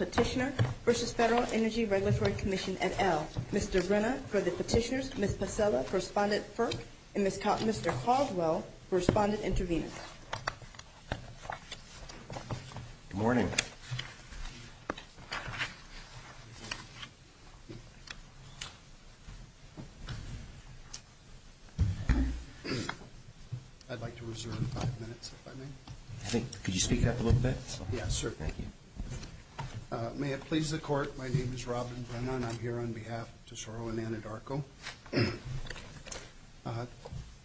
Petitioner v. Federal Energy Regulatory Commission et al. Mr. Brenna for the petitioners, Ms. Pacella for Respondent FERC, and Mr. Caldwell for Respondent Intervenor. Good morning. May it please the Court, my name is Robin Brenna and I'm here on behalf of Tesoro and Anadarko.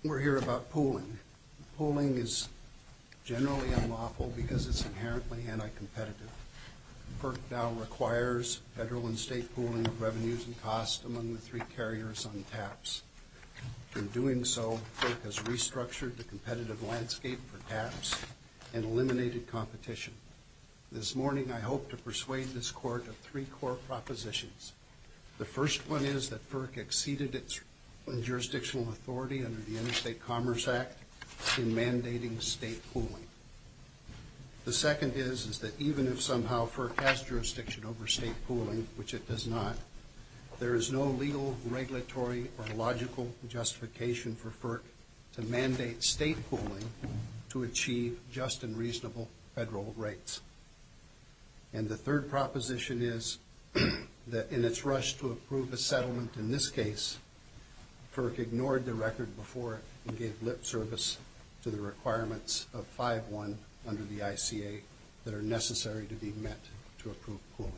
We're here about pooling. Pooling is generally unlawful because it's inherently anti-competitive. FERC now requires federal and state pooling of revenues and costs among the three carriers on TAPs. In doing so, FERC has restructured the competitive landscape for TAPs and eliminated competition. This morning I hope to persuade this Court of three core propositions. The first one is that FERC exceeded its jurisdictional authority under the Interstate Commerce Act in mandating state pooling. The second is that even if somehow FERC has jurisdiction over state pooling, which it does not, there is no legal, regulatory, or logical justification for FERC to mandate state pooling to achieve just and reasonable federal rates. And the third proposition is that in its rush to approve a settlement in this case, FERC ignored the record before and gave lip service to the requirements of 5.1 under the ICA that are necessary to be met to approve pooling.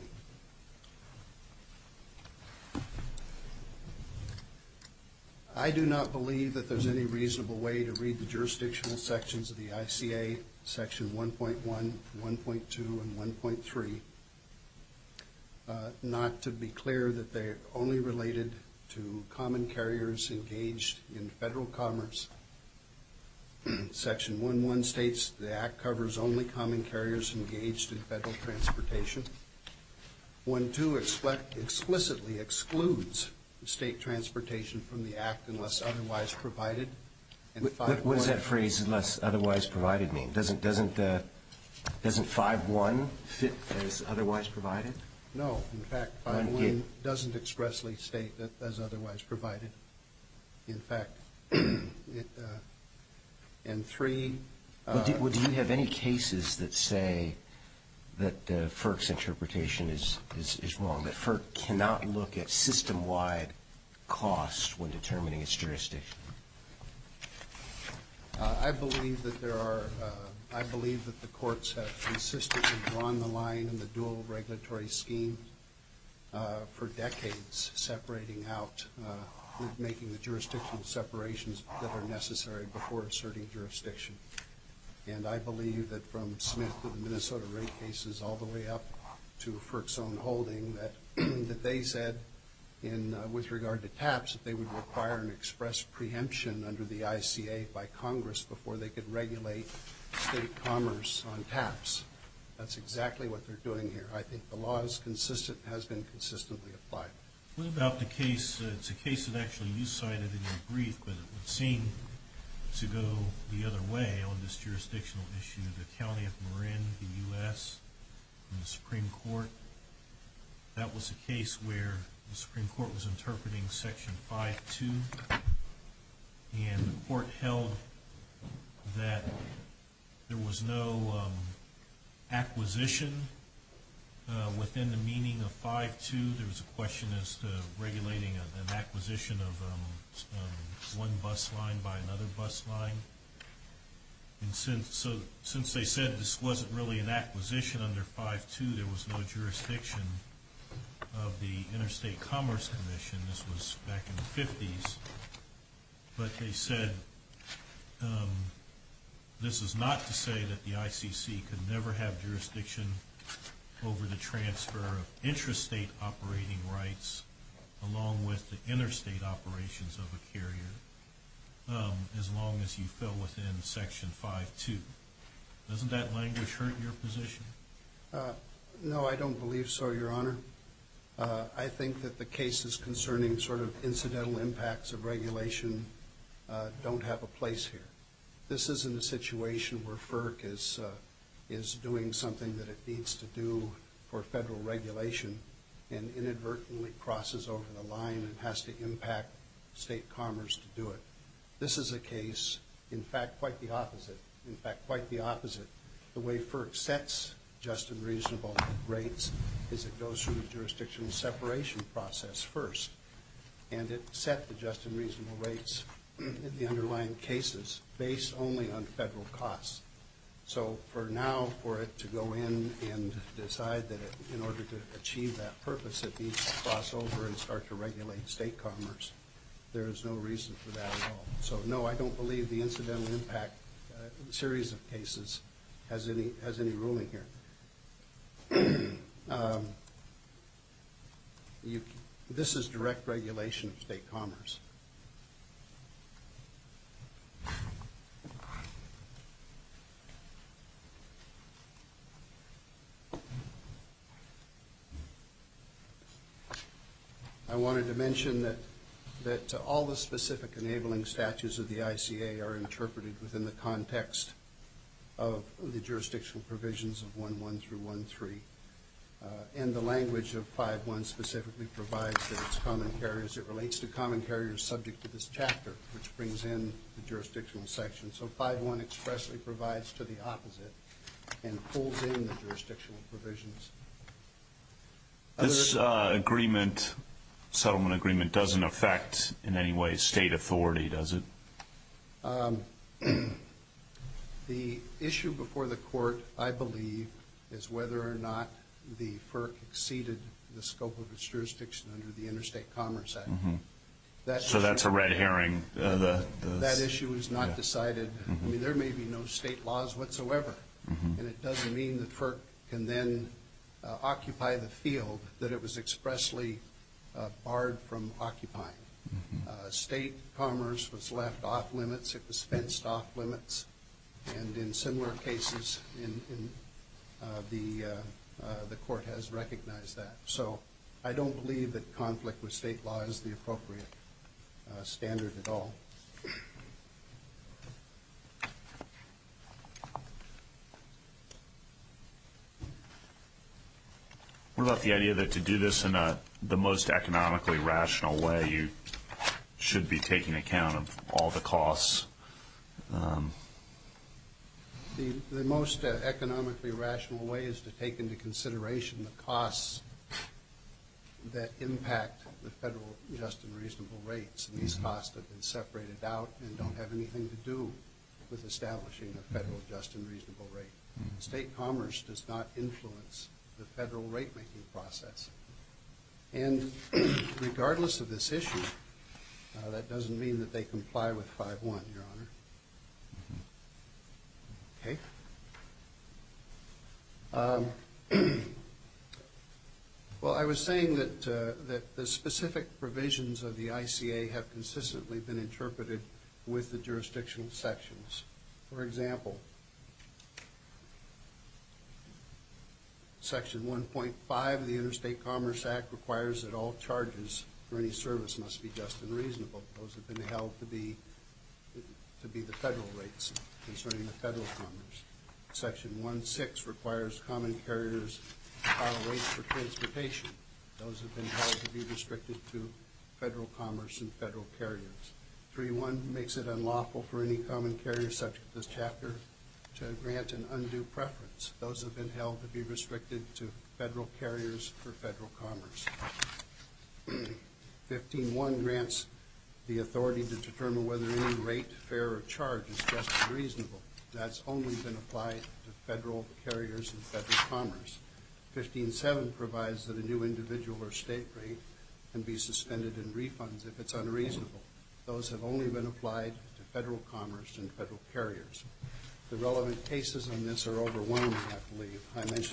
I do not believe that there's any reasonable way to read the jurisdictional sections of the ICA, section 1.1, 1.2, and 1.3, not to be clear that they're only related to common carriers engaged in federal commerce. Section 1.1 states the Act covers only common carriers engaged in federal transportation. 1.2 explicitly excludes state transportation from the Act unless otherwise provided. What does that phrase, unless otherwise provided, mean? Doesn't 5.1 fit as otherwise provided? No. In fact, 5.1 doesn't expressly state that as otherwise provided. In fact, in 3. Do you have any cases that say that FERC's interpretation is wrong, that FERC cannot look at system-wide costs when determining its jurisdiction? I believe that the courts have consistently drawn the line in the dual regulatory scheme for decades, separating out, making the jurisdictional separations that are necessary before asserting jurisdiction. And I believe that from Smith to the Minnesota rate cases all the way up to FERC's own holding, that they said with regard to TAPs that they would require an express preemption under the ICA by Congress before they could regulate state commerce on TAPs. That's exactly what they're doing here. I think the law has been consistently applied. What about the case, it's a case that actually you cited in your brief, but it would seem to go the other way on this jurisdictional issue, the County of Marin, the U.S., and the Supreme Court. That was a case where the Supreme Court was interpreting Section 5.2, and the court held that there was no acquisition within the meaning of 5.2. There was a question as to regulating an acquisition of one bus line by another bus line. And since they said this wasn't really an acquisition under 5.2, there was no jurisdiction of the Interstate Commerce Commission, this was back in the 50s, but they said this is not to say that the ICC could never have jurisdiction over the transfer of intrastate operating rights along with the interstate operations of a carrier as long as you fell within Section 5.2. Doesn't that language hurt your position? No, I don't believe so, Your Honor. I think that the cases concerning sort of incidental impacts of regulation don't have a place here. This isn't a situation where FERC is doing something that it needs to do for federal regulation and inadvertently crosses over the line and has to impact state commerce to do it. This is a case, in fact, quite the opposite. In fact, quite the opposite. The way FERC sets just and reasonable rates is it goes through a jurisdictional separation process first, and it sets the just and reasonable rates in the underlying cases based only on federal costs. So for now, for it to go in and decide that in order to achieve that purpose, it needs to cross over and start to regulate state commerce, there is no reason for that at all. So, no, I don't believe the incidental impact series of cases has any ruling here. This is direct regulation of state commerce. I wanted to mention that all the specific enabling statutes of the ICA are interpreted within the context of the jurisdictional provisions of 1.1 through 1.3, and the language of 5.1 specifically provides that it's common carriers. It relates to common carriers subject to this chapter, which brings in the jurisdictional section. So 5.1 expressly provides to the opposite and pulls in the jurisdictional provisions. This settlement agreement doesn't affect in any way state authority, does it? The issue before the court, I believe, is whether or not the FERC exceeded the scope of its jurisdiction under the Interstate Commerce Act. So that's a red herring. That issue is not decided. I mean, there may be no state laws whatsoever, and it doesn't mean the FERC can then occupy the field that it was expressly barred from occupying. State commerce was left off limits. It was fenced off limits. And in similar cases, the court has recognized that. So I don't believe that conflict with state law is the appropriate standard at all. What about the idea that to do this in the most economically rational way, you should be taking account of all the costs? The most economically rational way is to take into consideration the costs that impact the federal just and reasonable rates. And these costs have been separated out and don't have anything to do with establishing a federal just and reasonable rate. State commerce does not influence the federal rate-making process. And regardless of this issue, that doesn't mean that they comply with 5-1, Your Honor. Okay. Well, I was saying that the specific provisions of the ICA have consistently been interpreted with the jurisdictional sections. For example, Section 1.5 of the Interstate Commerce Act requires that all charges for any service must be just and reasonable. Those have been held to be the federal rates concerning the federal commerce. Section 1.6 requires common carriers to file rates for transportation. Those have been held to be restricted to federal commerce and federal carriers. 3.1 makes it unlawful for any common carrier subject to this chapter to grant an undue preference. Those have been held to be restricted to federal carriers for federal commerce. 15.1 grants the authority to determine whether any rate, fare, or charge is just and reasonable. That's only been applied to federal carriers and federal commerce. 15.7 provides that a new individual or state rate can be suspended in refunds if it's unreasonable. Those have only been applied to federal commerce and federal carriers. The relevant cases on this are overwhelming, I believe.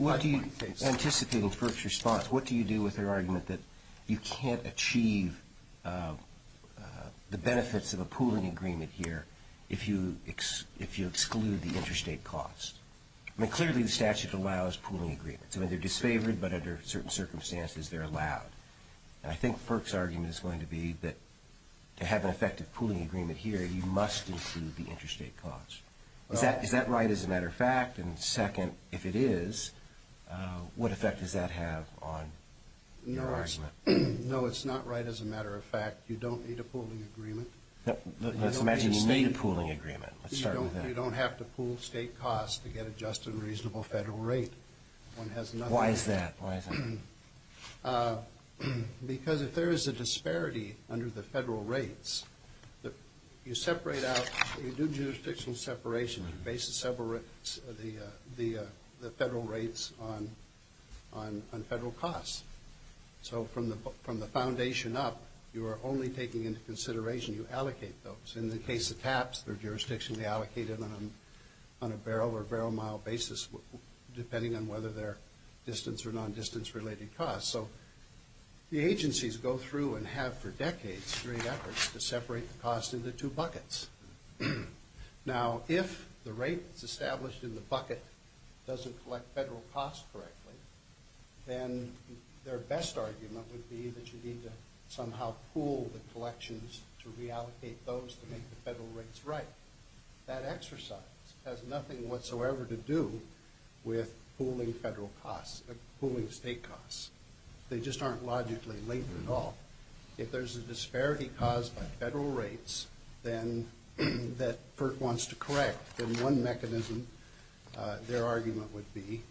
What do you, anticipating FERC's response, what do you do with their argument that you can't achieve the benefits of a pooling agreement here if you exclude the interstate cost? I mean, clearly the statute allows pooling agreements. I mean, they're disfavored, but under certain circumstances, they're allowed. And I think FERC's argument is going to be that to have an effective pooling agreement here, you must include the interstate cost. Is that right as a matter of fact? And second, if it is, what effect does that have on your argument? No, it's not right as a matter of fact. You don't need a pooling agreement. Let's imagine you need a pooling agreement. You don't have to pool state costs to get a just and reasonable federal rate. Why is that? Because if there is a disparity under the federal rates, you separate out, you do jurisdictional separation. Your basis separates the federal rates on federal costs. So from the foundation up, you are only taking into consideration, you allocate those. In the case of TAPs, they're jurisdictionally allocated on a barrel or barrel mile basis, depending on whether they're distance or non-distance related costs. So the agencies go through and have for decades great efforts to separate the costs into two buckets. Now, if the rate that's established in the bucket doesn't collect federal costs correctly, then their best argument would be that you need to somehow pool the collections to reallocate those to make the federal rates right. That exercise has nothing whatsoever to do with pooling federal costs, pooling state costs. They just aren't logically linked at all. If there's a disparity caused by federal rates that FERC wants to correct, then one mechanism, their argument would be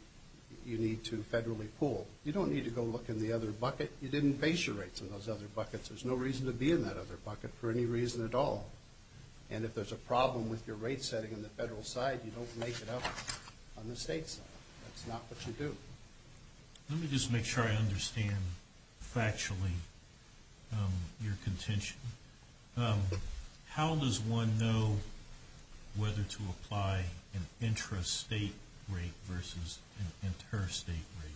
you need to federally pool. You don't need to go look in the other bucket. You didn't base your rates on those other buckets. There's no reason to be in that other bucket for any reason at all. And if there's a problem with your rate setting on the federal side, you don't make it up on the state side. That's not what you do. Let me just make sure I understand factually your contention. How does one know whether to apply an intrastate rate versus an interstate rate?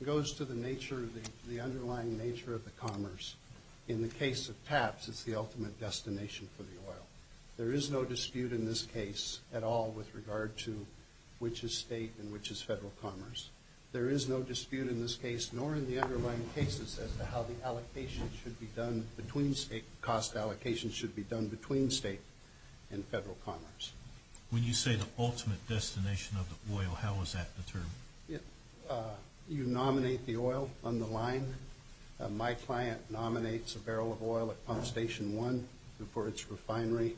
It goes to the underlying nature of the commerce. In the case of TAPS, it's the ultimate destination for the oil. There is no dispute in this case at all with regard to which is state and which is federal commerce. There is no dispute in this case, nor in the underlying cases, as to how the allocation should be done between state, cost allocation should be done between state and federal commerce. When you say the ultimate destination of the oil, how is that determined? You nominate the oil on the line. My client nominates a barrel of oil at Pump Station 1 for its refinery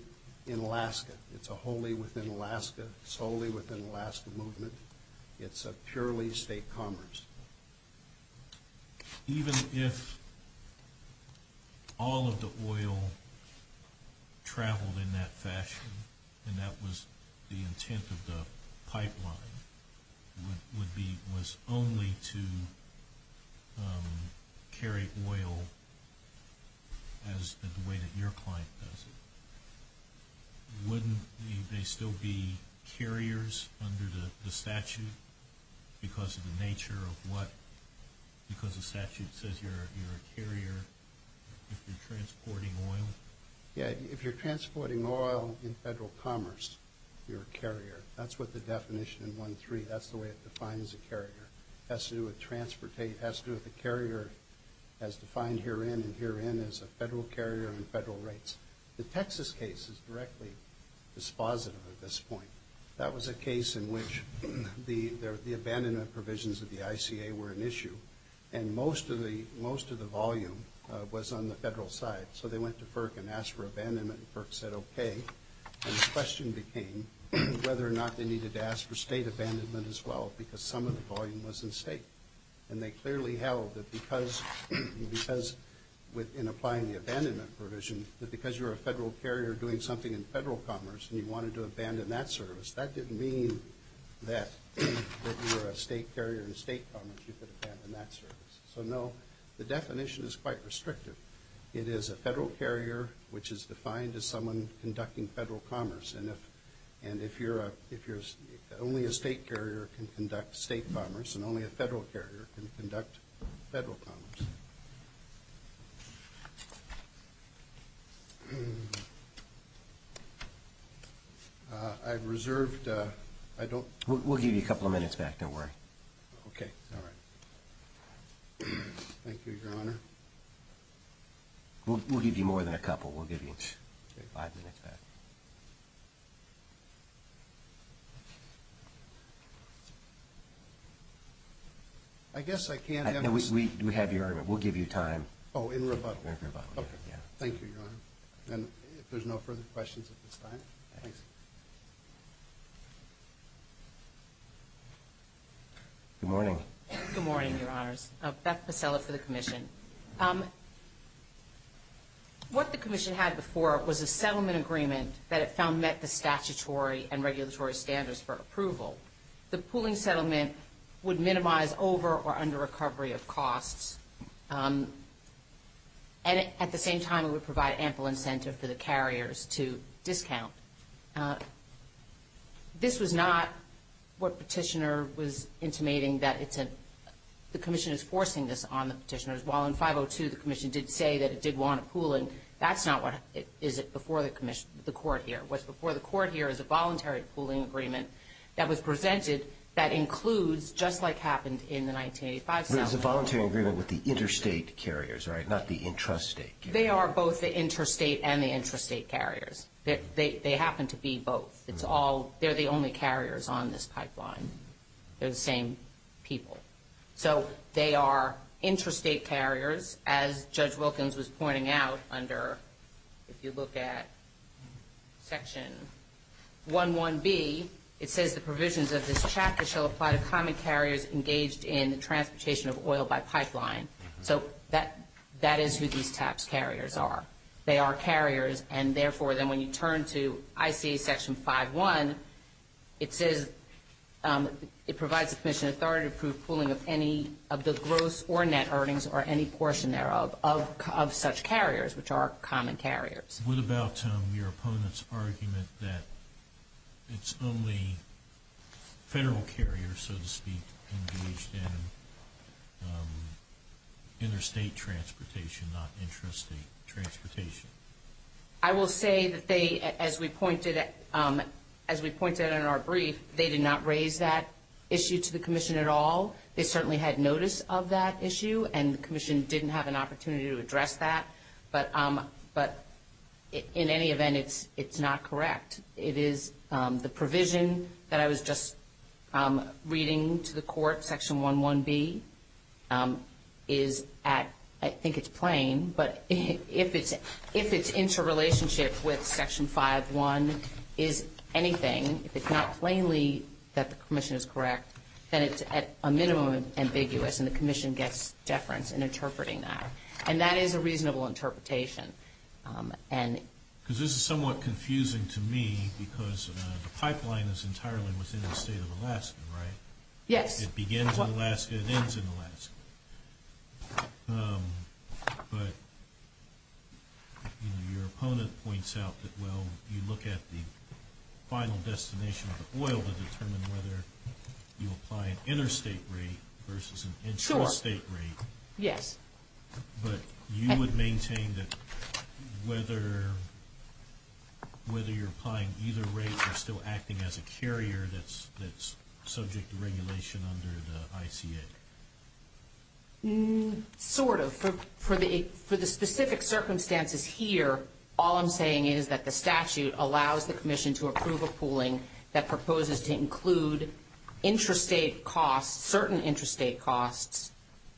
in Alaska. It's a wholly within Alaska, solely within Alaska movement. It's a purely state commerce. Even if all of the oil traveled in that fashion, and that was the intent of the pipeline, was only to carry oil in the way that your client does it, wouldn't they still be carriers under the statute because of the nature of what, because the statute says you're a carrier if you're transporting oil? Yeah, if you're transporting oil in federal commerce, you're a carrier. That's what the definition in 1.3, that's the way it defines a carrier. It has to do with the carrier as defined herein and herein as a federal carrier and federal rates. The Texas case is directly dispositive at this point. That was a case in which the abandonment provisions of the ICA were an issue, and most of the volume was on the federal side. So they went to FERC and asked for abandonment, and FERC said okay. And the question became whether or not they needed to ask for state abandonment as well because some of the volume was in state. And they clearly held that because in applying the abandonment provision, that because you're a federal carrier doing something in federal commerce and you wanted to abandon that service, that didn't mean that if you were a state carrier in state commerce you could abandon that service. So no, the definition is quite restrictive. It is a federal carrier which is defined as someone conducting federal commerce, and only a state carrier can conduct state commerce, and only a federal carrier can conduct federal commerce. We'll give you a couple of minutes back. Don't worry. Okay. All right. Thank you, Your Honor. We'll give you more than a couple. We'll give you five minutes back. Okay. I guess I can't answer. We have your argument. We'll give you time. Oh, in rebuttal. In rebuttal, yeah. Okay. Thank you, Your Honor. And if there's no further questions at this time, please. Good morning. Good morning, Your Honors. Beth Pasella for the Commission. What the Commission had before was a settlement agreement that it found met the statutory and regulatory standards for approval. The pooling settlement would minimize over or under recovery of costs, and at the same time it would provide ample incentive for the carriers to discount. This was not what Petitioner was intimating, meaning that the Commission is forcing this on the petitioners, while in 502 the Commission did say that it did want a pooling. That's not what is before the Court here. What's before the Court here is a voluntary pooling agreement that was presented that includes, just like happened in the 1985 settlement. It was a voluntary agreement with the interstate carriers, right, not the intrastate carriers. They are both the interstate and the intrastate carriers. They happen to be both. They're the only carriers on this pipeline. They're the same people. So they are intrastate carriers, as Judge Wilkins was pointing out under, if you look at Section 11B, it says, the provisions of this chapter shall apply to common carriers engaged in the transportation of oil by pipeline. So that is who these TAPs carriers are. They are carriers, and therefore then when you turn to ICA Section 5.1, it says it provides the Commission authority to approve pooling of any of the gross or net earnings or any portion thereof of such carriers, which are common carriers. What about your opponent's argument that it's only federal carriers, so to speak, engaged in interstate transportation, not intrastate transportation? I will say that they, as we pointed out in our brief, they did not raise that issue to the Commission at all. They certainly had notice of that issue, and the Commission didn't have an opportunity to address that. But in any event, it's not correct. It is the provision that I was just reading to the court, Section 11B, is at, I think it's plain, but if it's interrelationship with Section 5.1 is anything, if it's not plainly that the Commission is correct, then it's at a minimum ambiguous, and the Commission gets deference in interpreting that. And that is a reasonable interpretation. Because this is somewhat confusing to me because the pipeline is entirely within the state of Alaska, right? Yes. It begins in Alaska, it ends in Alaska. But your opponent points out that, well, you look at the final destination of the oil to determine whether you apply an interstate rate versus an intrastate rate. Yes. But you would maintain that whether you're applying either rate, or still acting as a carrier that's subject to regulation under the ICA? Sort of. For the specific circumstances here, all I'm saying is that the statute allows the Commission to approve a pooling that proposes to include interstate costs, certain interstate costs,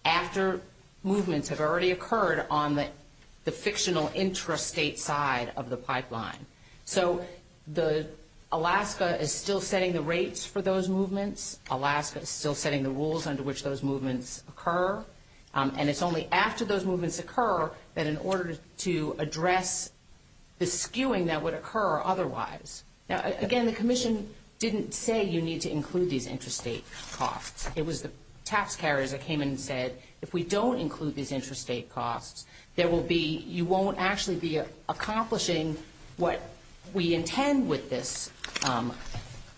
after movements have already occurred on the fictional intrastate side of the pipeline. So Alaska is still setting the rates for those movements. Alaska is still setting the rules under which those movements occur. And it's only after those movements occur that in order to address the skewing that would occur otherwise. Now, again, the Commission didn't say you need to include these intrastate costs. It was the tax carriers that came in and said, if we don't include these intrastate costs, you won't actually be accomplishing what we intend with this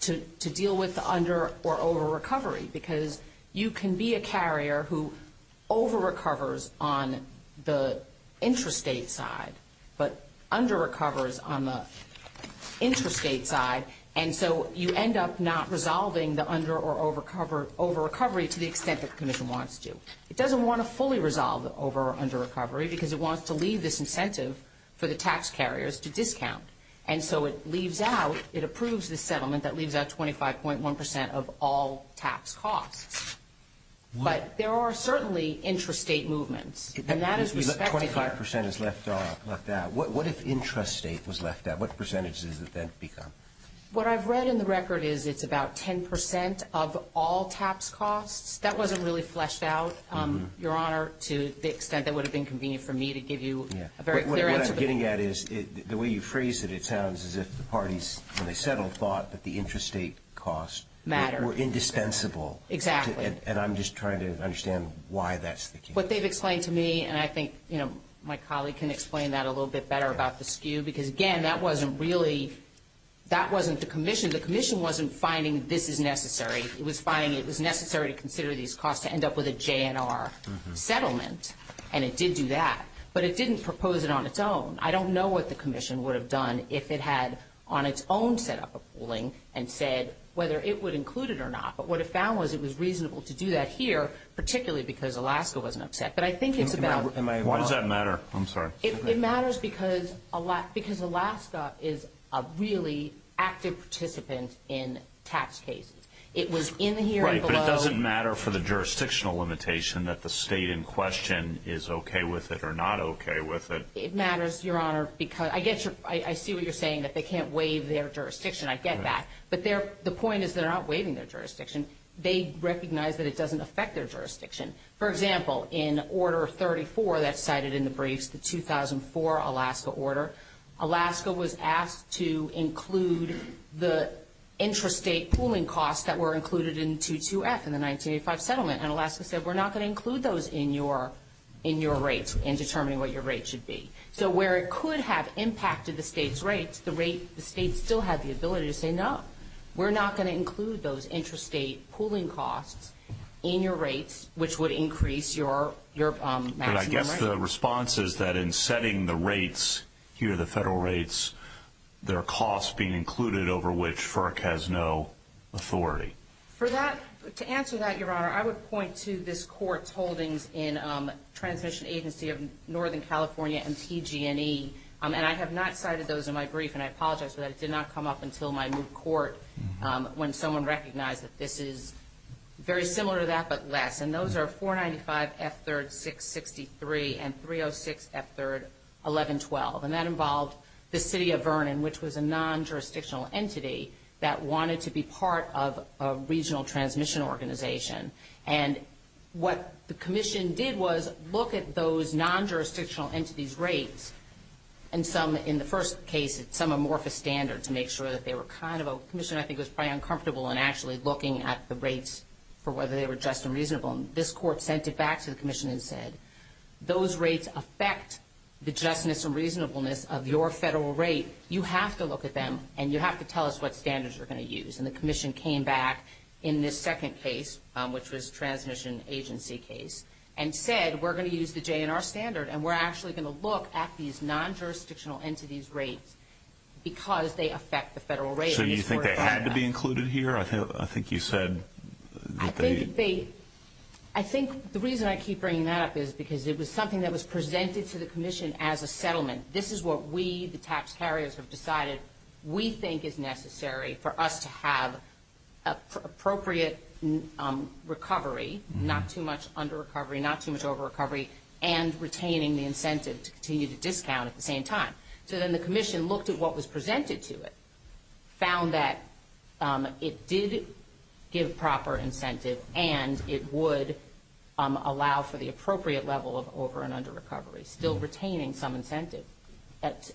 to deal with the under- or over-recovery. Because you can be a carrier who over-recovers on the intrastate side, but under-recovers on the intrastate side, and so you end up not resolving the under- or over-recovery to the extent that the Commission wants to. It doesn't want to fully resolve over- or under-recovery because it wants to leave this incentive for the tax carriers to discount. And so it leaves out, it approves the settlement that leaves out 25.1 percent of all tax costs. But there are certainly intrastate movements, and that is respected here. 25 percent is left out. What if intrastate was left out? What percentage does that then become? What I've read in the record is it's about 10 percent of all tax costs. That wasn't really fleshed out, Your Honor, to the extent that it would have been convenient for me to give you a very clear answer. What I'm getting at is the way you phrase it, it sounds as if the parties, when they settled, thought that the intrastate costs were indispensable. Exactly. And I'm just trying to understand why that's the case. What they've explained to me, and I think my colleague can explain that a little bit better about the skew, because, again, that wasn't really, that wasn't the Commission. The Commission wasn't finding this is necessary. It was finding it was necessary to consider these costs to end up with a JNR settlement, and it did do that. But it didn't propose it on its own. I don't know what the Commission would have done if it had on its own set up a ruling and said whether it would include it or not. But what it found was it was reasonable to do that here, particularly because Alaska wasn't upset. But I think it's about – Why does that matter? I'm sorry. It matters because Alaska is a really active participant in tax cases. It was in the hearing below. Right, but it doesn't matter for the jurisdictional limitation that the state in question is okay with it or not okay with it. It matters, Your Honor, because I see what you're saying, that they can't waive their jurisdiction. I get that. But the point is they're not waiving their jurisdiction. They recognize that it doesn't affect their jurisdiction. For example, in Order 34 that's cited in the briefs, the 2004 Alaska order, Alaska was asked to include the intrastate pooling costs that were included in 22F in the 1985 settlement. And Alaska said we're not going to include those in your rates in determining what your rate should be. So where it could have impacted the state's rates, the state still had the ability to say no, we're not going to include those intrastate pooling costs in your rates, which would increase your maximum rate. I guess the response is that in setting the rates here, the federal rates, there are costs being included over which FERC has no authority. To answer that, Your Honor, I would point to this court's holdings in Transmission Agency of Northern California, MTG&E, and I have not cited those in my brief, and I apologize for that. It did not come up until my new court when someone recognized that this is very similar to that but less. And those are 495F3-663 and 306F3-1112. And that involved the city of Vernon, which was a non-jurisdictional entity, that wanted to be part of a regional transmission organization. And what the commission did was look at those non-jurisdictional entities' rates, and some, in the first case, some amorphous standards to make sure that they were kind of a commission. I think it was probably uncomfortable in actually looking at the rates for whether they were just and reasonable. And this court sent it back to the commission and said, those rates affect the justness and reasonableness of your federal rate. You have to look at them, and you have to tell us what standards you're going to use. And the commission came back in this second case, which was Transmission Agency case, and said, we're going to use the JNR standard, and we're actually going to look at these non-jurisdictional entities' rates because they affect the federal rate. So you think they had to be included here? I think you said that they – I think the reason I keep bringing that up is because it was something that was presented to the commission as a settlement. This is what we, the tax carriers, have decided we think is necessary for us to have appropriate recovery, not too much under-recovery, not too much over-recovery, and retaining the incentive to continue to discount at the same time. So then the commission looked at what was presented to it, found that it did give proper incentive, and it would allow for the appropriate level of over- and under-recovery, still retaining some incentive,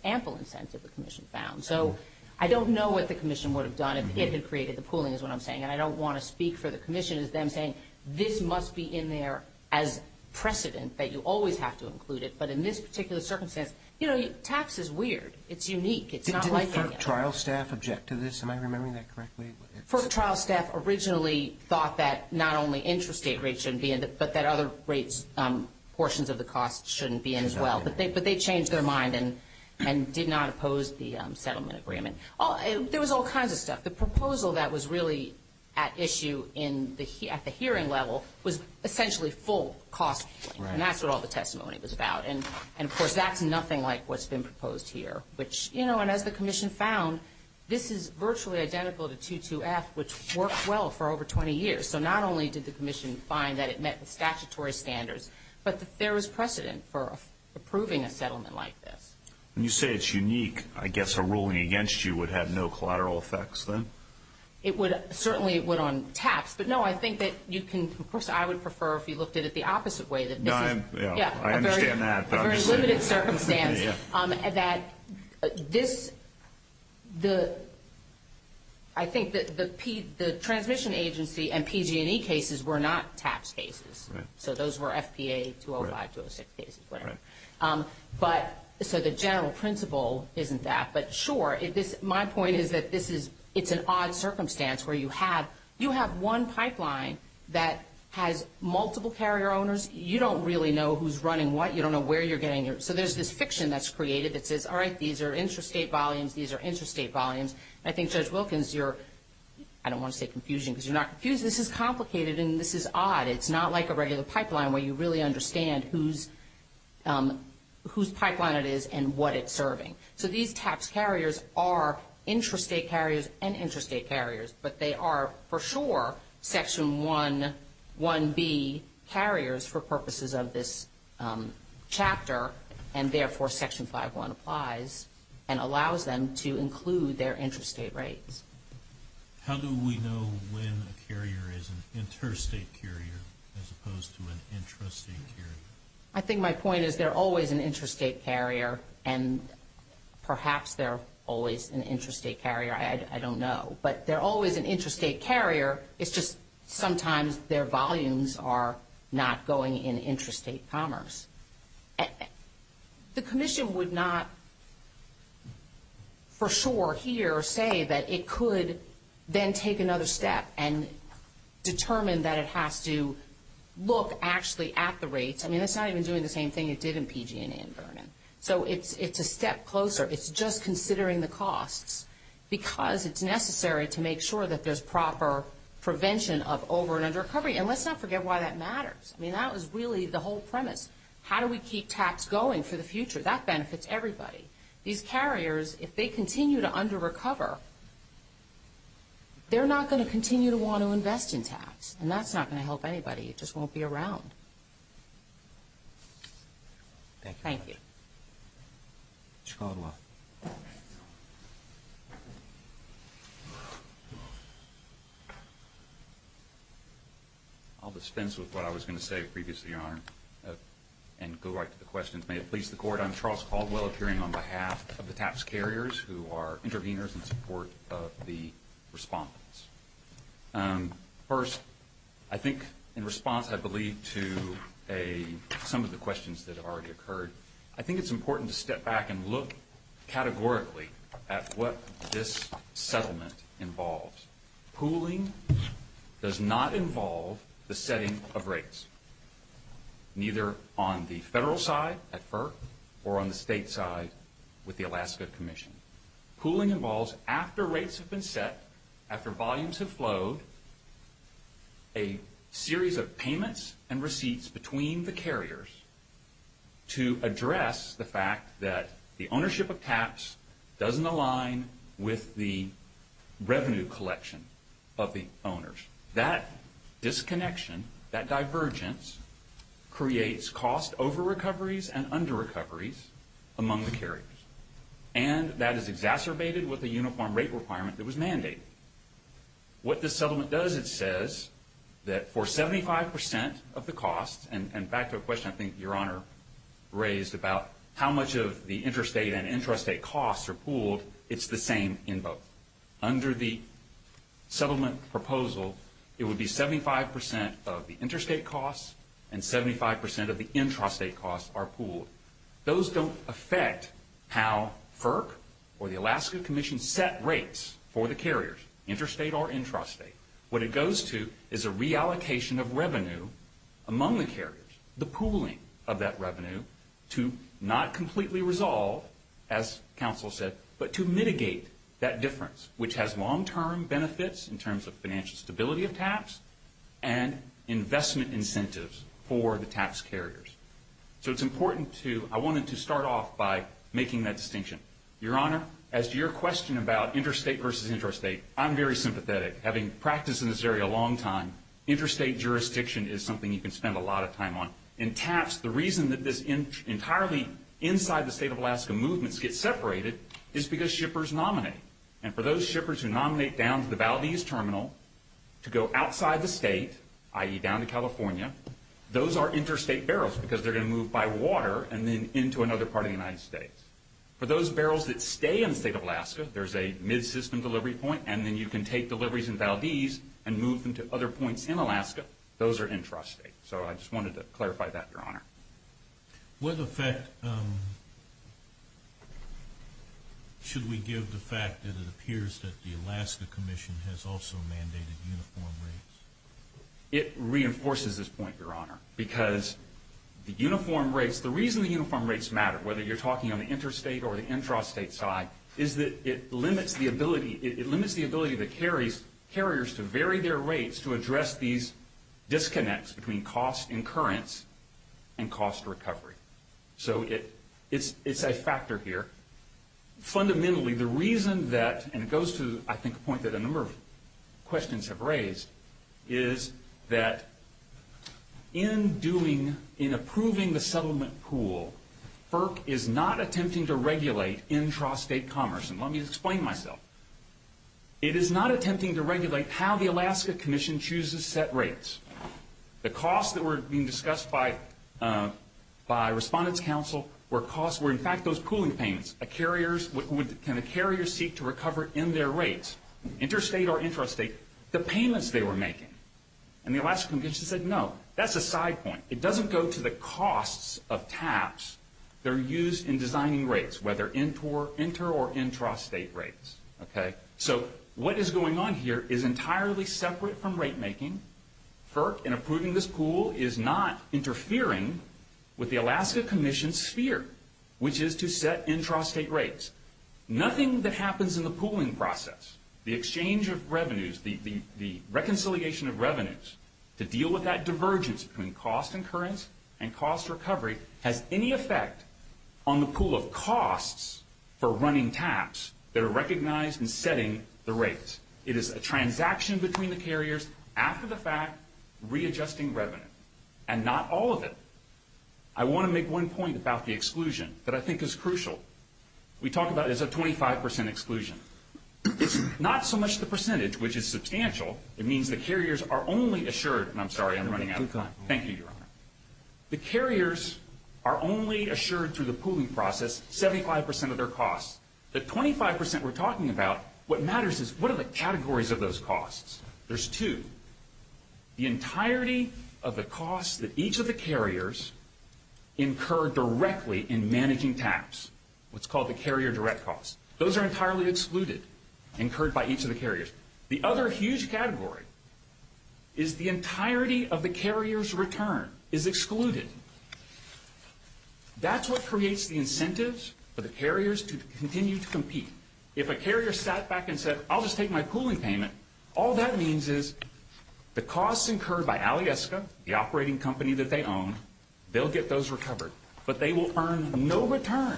ample incentive, the commission found. So I don't know what the commission would have done if it had created the pooling is what I'm saying, and I don't want to speak for the commission as them saying, this must be in there as precedent, that you always have to include it. But in this particular circumstance, you know, tax is weird. It's unique. It's not like – Didn't the FERC trial staff object to this? Am I remembering that correctly? FERC trial staff originally thought that not only interest rate rates shouldn't be in, but that other rates, portions of the cost shouldn't be in as well. But they changed their mind and did not oppose the settlement agreement. There was all kinds of stuff. The proposal that was really at issue at the hearing level was essentially full cost, and that's what all the testimony was about. And, of course, that's nothing like what's been proposed here, which, you know, and as the commission found, this is virtually identical to 2-2-F, which worked well for over 20 years. So not only did the commission find that it met the statutory standards, but there was precedent for approving a settlement like this. When you say it's unique, I guess a ruling against you would have no collateral effects then? It would – certainly it would on tax. But, no, I think that you can – of course, I would prefer if you looked at it the opposite way. No, I understand that. A very limited circumstance. That this – I think that the transmission agency and PG&E cases were not tax cases. So those were FPA 205, 206 cases, whatever. So the general principle isn't that. But, sure, my point is that this is – it's an odd circumstance where you have – you have a pipeline that has multiple carrier owners. You don't really know who's running what. You don't know where you're getting your – so there's this fiction that's created that says, all right, these are interstate volumes, these are interstate volumes. I think, Judge Wilkins, you're – I don't want to say confusing because you're not confused. This is complicated and this is odd. It's not like a regular pipeline where you really understand whose pipeline it is and what it's serving. So these tax carriers are interstate carriers and interstate carriers. But they are, for sure, Section 1B carriers for purposes of this chapter, and therefore Section 5.1 applies and allows them to include their interstate rates. How do we know when a carrier is an interstate carrier as opposed to an intrastate carrier? I think my point is they're always an interstate carrier, and perhaps they're always an interstate carrier. I don't know. But they're always an interstate carrier. It's just sometimes their volumes are not going in interstate commerce. The Commission would not for sure here say that it could then take another step and determine that it has to look actually at the rates. I mean, it's not even doing the same thing it did in PG&E and Vernon. So it's a step closer. It's just considering the costs because it's necessary to make sure that there's proper prevention of over and under recovery, and let's not forget why that matters. I mean, that was really the whole premise. How do we keep tax going for the future? That benefits everybody. These carriers, if they continue to under-recover, they're not going to continue to want to invest in tax, and that's not going to help anybody. It just won't be around. Thank you. Mr. Caldwell. I'll dispense with what I was going to say previously, Your Honor, and go right to the questions. May it please the Court. I'm Charles Caldwell, appearing on behalf of the TAPS carriers, who are interveners in support of the respondents. First, I think in response, I believe, to some of the questions that have already occurred, I think it's important to step back and look categorically at what this settlement involves. Pooling does not involve the setting of rates, neither on the federal side at FERC or on the state side with the Alaska Commission. Pooling involves, after rates have been set, after volumes have flowed, a series of payments and receipts between the carriers to address the fact that the ownership of TAPS doesn't align with the revenue collection of the owners. That disconnection, that divergence, creates cost over-recoveries and under-recoveries among the carriers, and that is exacerbated with a uniform rate requirement that was mandated. What this settlement does, it says that for 75% of the cost, and back to a question I think Your Honor raised about how much of the interstate and intrastate costs are pooled, it's the same in both. Under the settlement proposal, it would be 75% of the interstate costs and 75% of the intrastate costs are pooled. Those don't affect how FERC or the Alaska Commission set rates for the carriers, interstate or intrastate. What it goes to is a reallocation of revenue among the carriers, the pooling of that revenue, to not completely resolve, as counsel said, but to mitigate that difference, which has long-term benefits in terms of financial stability of TAPS and investment incentives for the TAPS carriers. So it's important to, I wanted to start off by making that distinction. Your Honor, as to your question about interstate versus intrastate, I'm very sympathetic. Having practiced in this area a long time, interstate jurisdiction is something you can spend a lot of time on. In TAPS, the reason that this entirely inside the state of Alaska movements gets separated is because shippers nominate. And for those shippers who nominate down to the Valdez Terminal to go outside the state, i.e. down to California, those are interstate barrels because they're going to move by water and then into another part of the United States. For those barrels that stay in the state of Alaska, there's a mid-system delivery point, and then you can take deliveries in Valdez and move them to other points in Alaska. Those are intrastate. So I just wanted to clarify that, Your Honor. What effect should we give the fact that it appears that the Alaska Commission has also mandated uniform rates? It reinforces this point, Your Honor, because the reason the uniform rates matter, whether you're talking on the interstate or the intrastate side, is that it limits the ability of the carriers to vary their rates to address these disconnects between cost incurrence and cost recovery. So it's a factor here. Fundamentally, the reason that, and it goes to, I think, a point that a number of questions have raised, is that in approving the settlement pool, FERC is not attempting to regulate intrastate commerce. And let me explain myself. It is not attempting to regulate how the Alaska Commission chooses set rates. The costs that were being discussed by Respondents Council were, in fact, those pooling payments. Can the carriers seek to recover in their rates, interstate or intrastate, the payments they were making? And the Alaska Commission said, no, that's a side point. It doesn't go to the costs of TAPs that are used in designing rates, whether inter- or intrastate rates. So what is going on here is entirely separate from rate making. FERC, in approving this pool, is not interfering with the Alaska Commission's sphere, which is to set intrastate rates. Nothing that happens in the pooling process, the exchange of revenues, the reconciliation of revenues, to deal with that divergence between cost incurrence and cost recovery, has any effect on the pool of costs for running TAPs that are recognized and setting the rates. It is a transaction between the carriers, after the fact, readjusting revenue. And not all of it. I want to make one point about the exclusion that I think is crucial. We talk about it as a 25% exclusion. Not so much the percentage, which is substantial. It means the carriers are only assured, and I'm sorry, I'm running out of time. Thank you, Your Honor. The carriers are only assured through the pooling process 75% of their costs. The 25% we're talking about, what matters is, what are the categories of those costs? There's two. The entirety of the costs that each of the carriers incur directly in managing TAPs, what's called the carrier direct costs. Those are entirely excluded, incurred by each of the carriers. The other huge category is the entirety of the carrier's return is excluded. That's what creates the incentives for the carriers to continue to compete. If a carrier sat back and said, I'll just take my pooling payment, all that means is the costs incurred by Alyeska, the operating company that they own, they'll get those recovered. But they will earn no return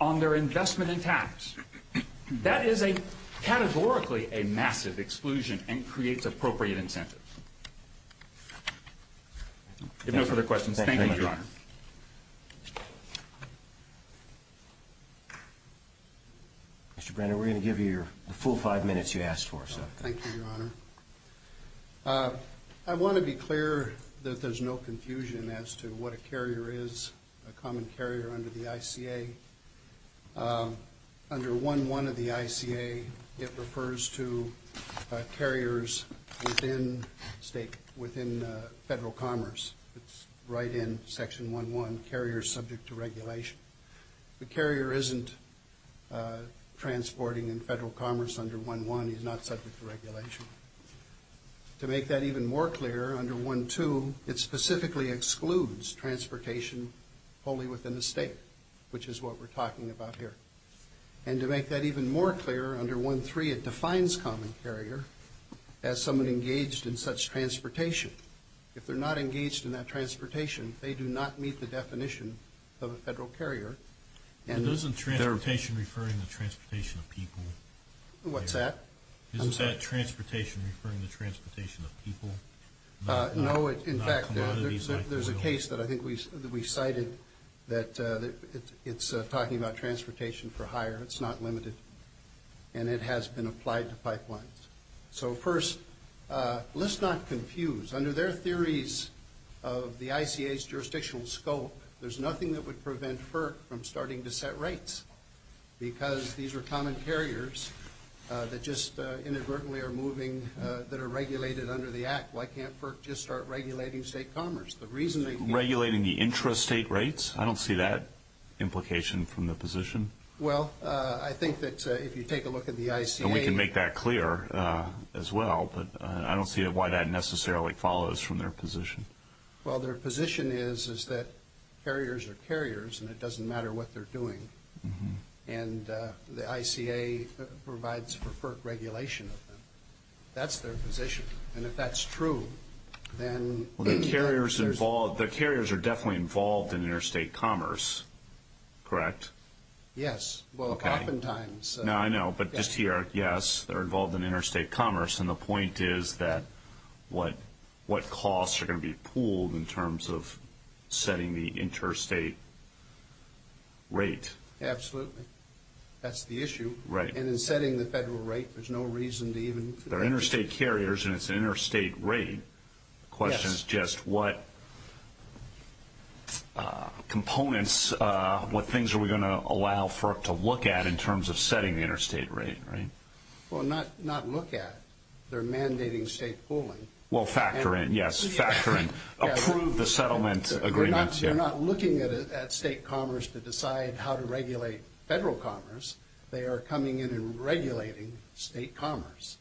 on their investment in TAPs. That is categorically a massive exclusion and creates appropriate incentives. If no further questions, thank you, Your Honor. Mr. Brenner, we're going to give you the full five minutes you asked for. Thank you, Your Honor. I want to be clear that there's no confusion as to what a carrier is. A common carrier under the ICA, under 1.1 of the ICA, it refers to carriers within federal commerce. It's right in Section 1.1, carriers subject to regulation. The carrier isn't transporting in federal commerce under 1.1. He's not subject to regulation. To make that even more clear, under 1.2, it specifically excludes transportation only within the state, which is what we're talking about here. And to make that even more clear, under 1.3, it defines common carrier as someone engaged in such transportation. If they're not engaged in that transportation, they do not meet the definition of a federal carrier. Isn't transportation referring to transportation of people? What's that? Isn't that transportation referring to transportation of people? No, in fact, there's a case that I think we cited that it's talking about transportation for hire. It's not limited. And it has been applied to pipelines. So, first, let's not confuse. Under their theories of the ICA's jurisdictional scope, there's nothing that would prevent FERC from starting to set rates because these are common carriers that just inadvertently are moving that are regulated under the act. Why can't FERC just start regulating state commerce? Regulating the intrastate rates? I don't see that implication from the position. Well, I think that if you take a look at the ICA. And we can make that clear as well, but I don't see why that necessarily follows from their position. Well, their position is that carriers are carriers and it doesn't matter what they're doing. And the ICA provides for FERC regulation of them. That's their position. And if that's true, then anyway. Well, the carriers are definitely involved in interstate commerce, correct? Yes. Well, oftentimes. No, I know. But just here, yes, they're involved in interstate commerce. And the point is that what costs are going to be pooled in terms of setting the interstate rate? Absolutely. That's the issue. And in setting the federal rate, there's no reason to even... They're interstate carriers and it's an interstate rate. The question is just what components, what things are we going to allow FERC to look at in terms of setting the interstate rate, right? Well, not look at... they're mandating state pooling. Well, factor in, yes, factor in. Approve the settlement agreements. They're not looking at state commerce to decide how to regulate federal commerce. They are coming in and regulating state commerce.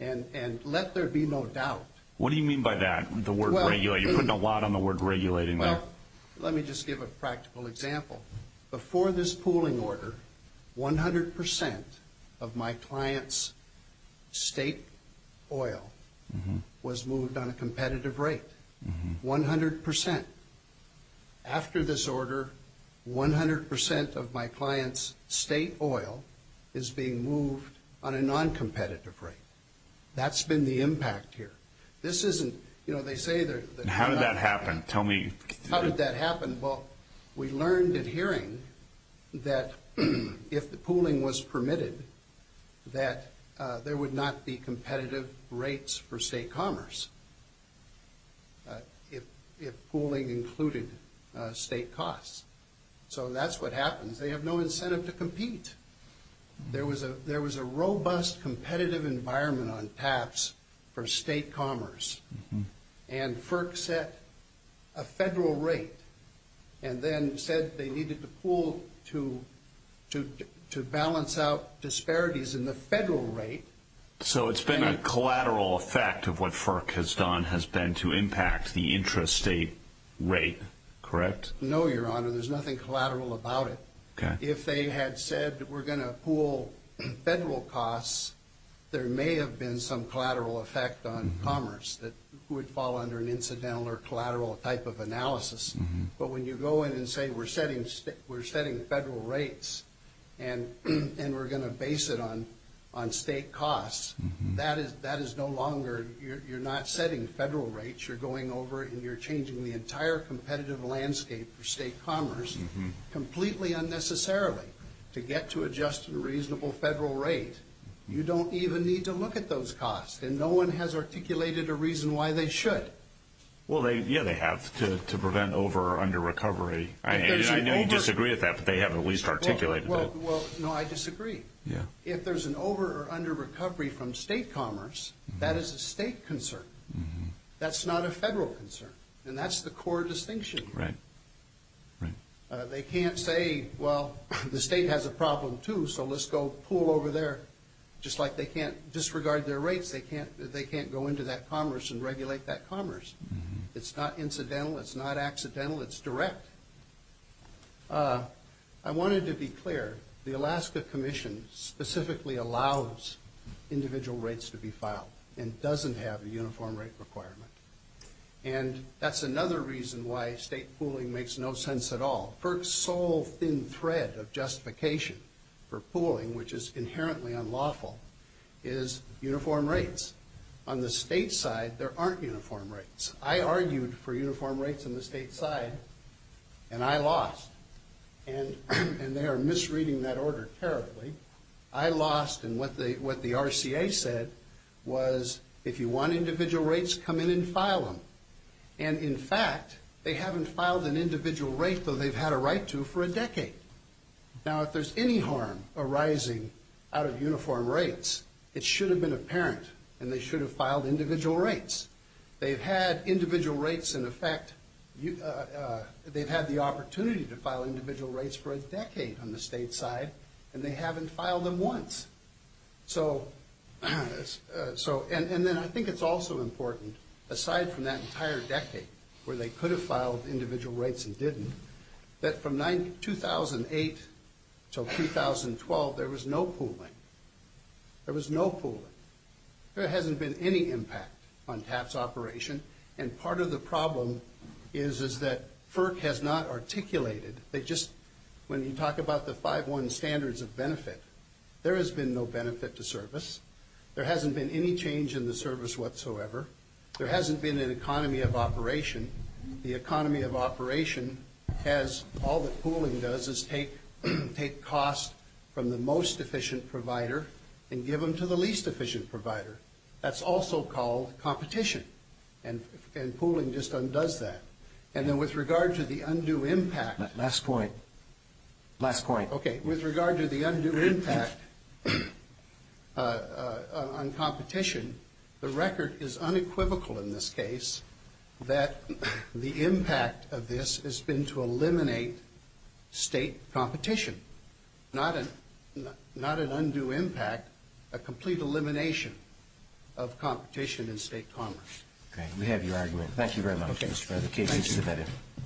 And let there be no doubt. What do you mean by that, the word regulate? You're putting a lot on the word regulating there. Well, let me just give a practical example. Before this pooling order, 100% of my client's state oil was moved on a competitive rate, 100%. After this order, 100% of my client's state oil is being moved on a noncompetitive rate. That's been the impact here. This isn't... you know, they say... How did that happen? Tell me. How did that happen? Well, we learned at hearing that if the pooling was permitted, that there would not be competitive rates for state commerce if pooling included state costs. So that's what happens. They have no incentive to compete. There was a robust competitive environment on TAPS for state commerce. And FERC set a federal rate and then said they needed to pool to balance out disparities in the federal rate. So it's been a collateral effect of what FERC has done has been to impact the intrastate rate, correct? No, Your Honor. There's nothing collateral about it. If they had said we're going to pool federal costs, there may have been some collateral effect on commerce that would fall under an incidental or collateral type of analysis. But when you go in and say we're setting federal rates and we're going to base it on state costs, that is no longer... you're not setting federal rates. You're going over and you're changing the entire competitive landscape for state commerce completely unnecessarily to get to a just and reasonable federal rate. You don't even need to look at those costs. And no one has articulated a reason why they should. Well, yeah, they have to prevent over or under recovery. I know you disagree with that, but they have at least articulated that. Well, no, I disagree. If there's an over or under recovery from state commerce, that is a state concern. That's not a federal concern, and that's the core distinction. Right, right. They can't say, well, the state has a problem too, so let's go pool over there. Just like they can't disregard their rates, they can't go into that commerce and regulate that commerce. It's not incidental. It's not accidental. It's direct. I wanted to be clear. The Alaska Commission specifically allows individual rates to be filed and doesn't have a uniform rate requirement. And that's another reason why state pooling makes no sense at all. FERC's sole thin thread of justification for pooling, which is inherently unlawful, is uniform rates. On the state side, there aren't uniform rates. I argued for uniform rates on the state side, and I lost. And they are misreading that order terribly. I lost, and what the RCA said was, if you want individual rates, come in and file them. And, in fact, they haven't filed an individual rate, though they've had a right to, for a decade. Now, if there's any harm arising out of uniform rates, it should have been apparent, and they should have filed individual rates. They've had individual rates in effect. They've had the opportunity to file individual rates for a decade on the state side, and they haven't filed them once. And then I think it's also important, aside from that entire decade where they could have filed individual rates and didn't, that from 2008 until 2012, there was no pooling. There was no pooling. There hasn't been any impact on TAP's operation, and part of the problem is that FERC has not articulated. When you talk about the 5-1 standards of benefit, there has been no benefit to service. There hasn't been any change in the service whatsoever. There hasn't been an economy of operation. The economy of operation has all the pooling does is take costs from the most efficient provider and give them to the least efficient provider. That's also called competition, and pooling just undoes that. And then with regard to the undue impact. Last point. Last point. Okay. With regard to the undue impact on competition, the record is unequivocal in this case that the impact of this has been to eliminate state competition, not an undue impact, a complete elimination of competition in state commerce. Okay. We have your argument. Thank you very much, Mr. President. Thank you.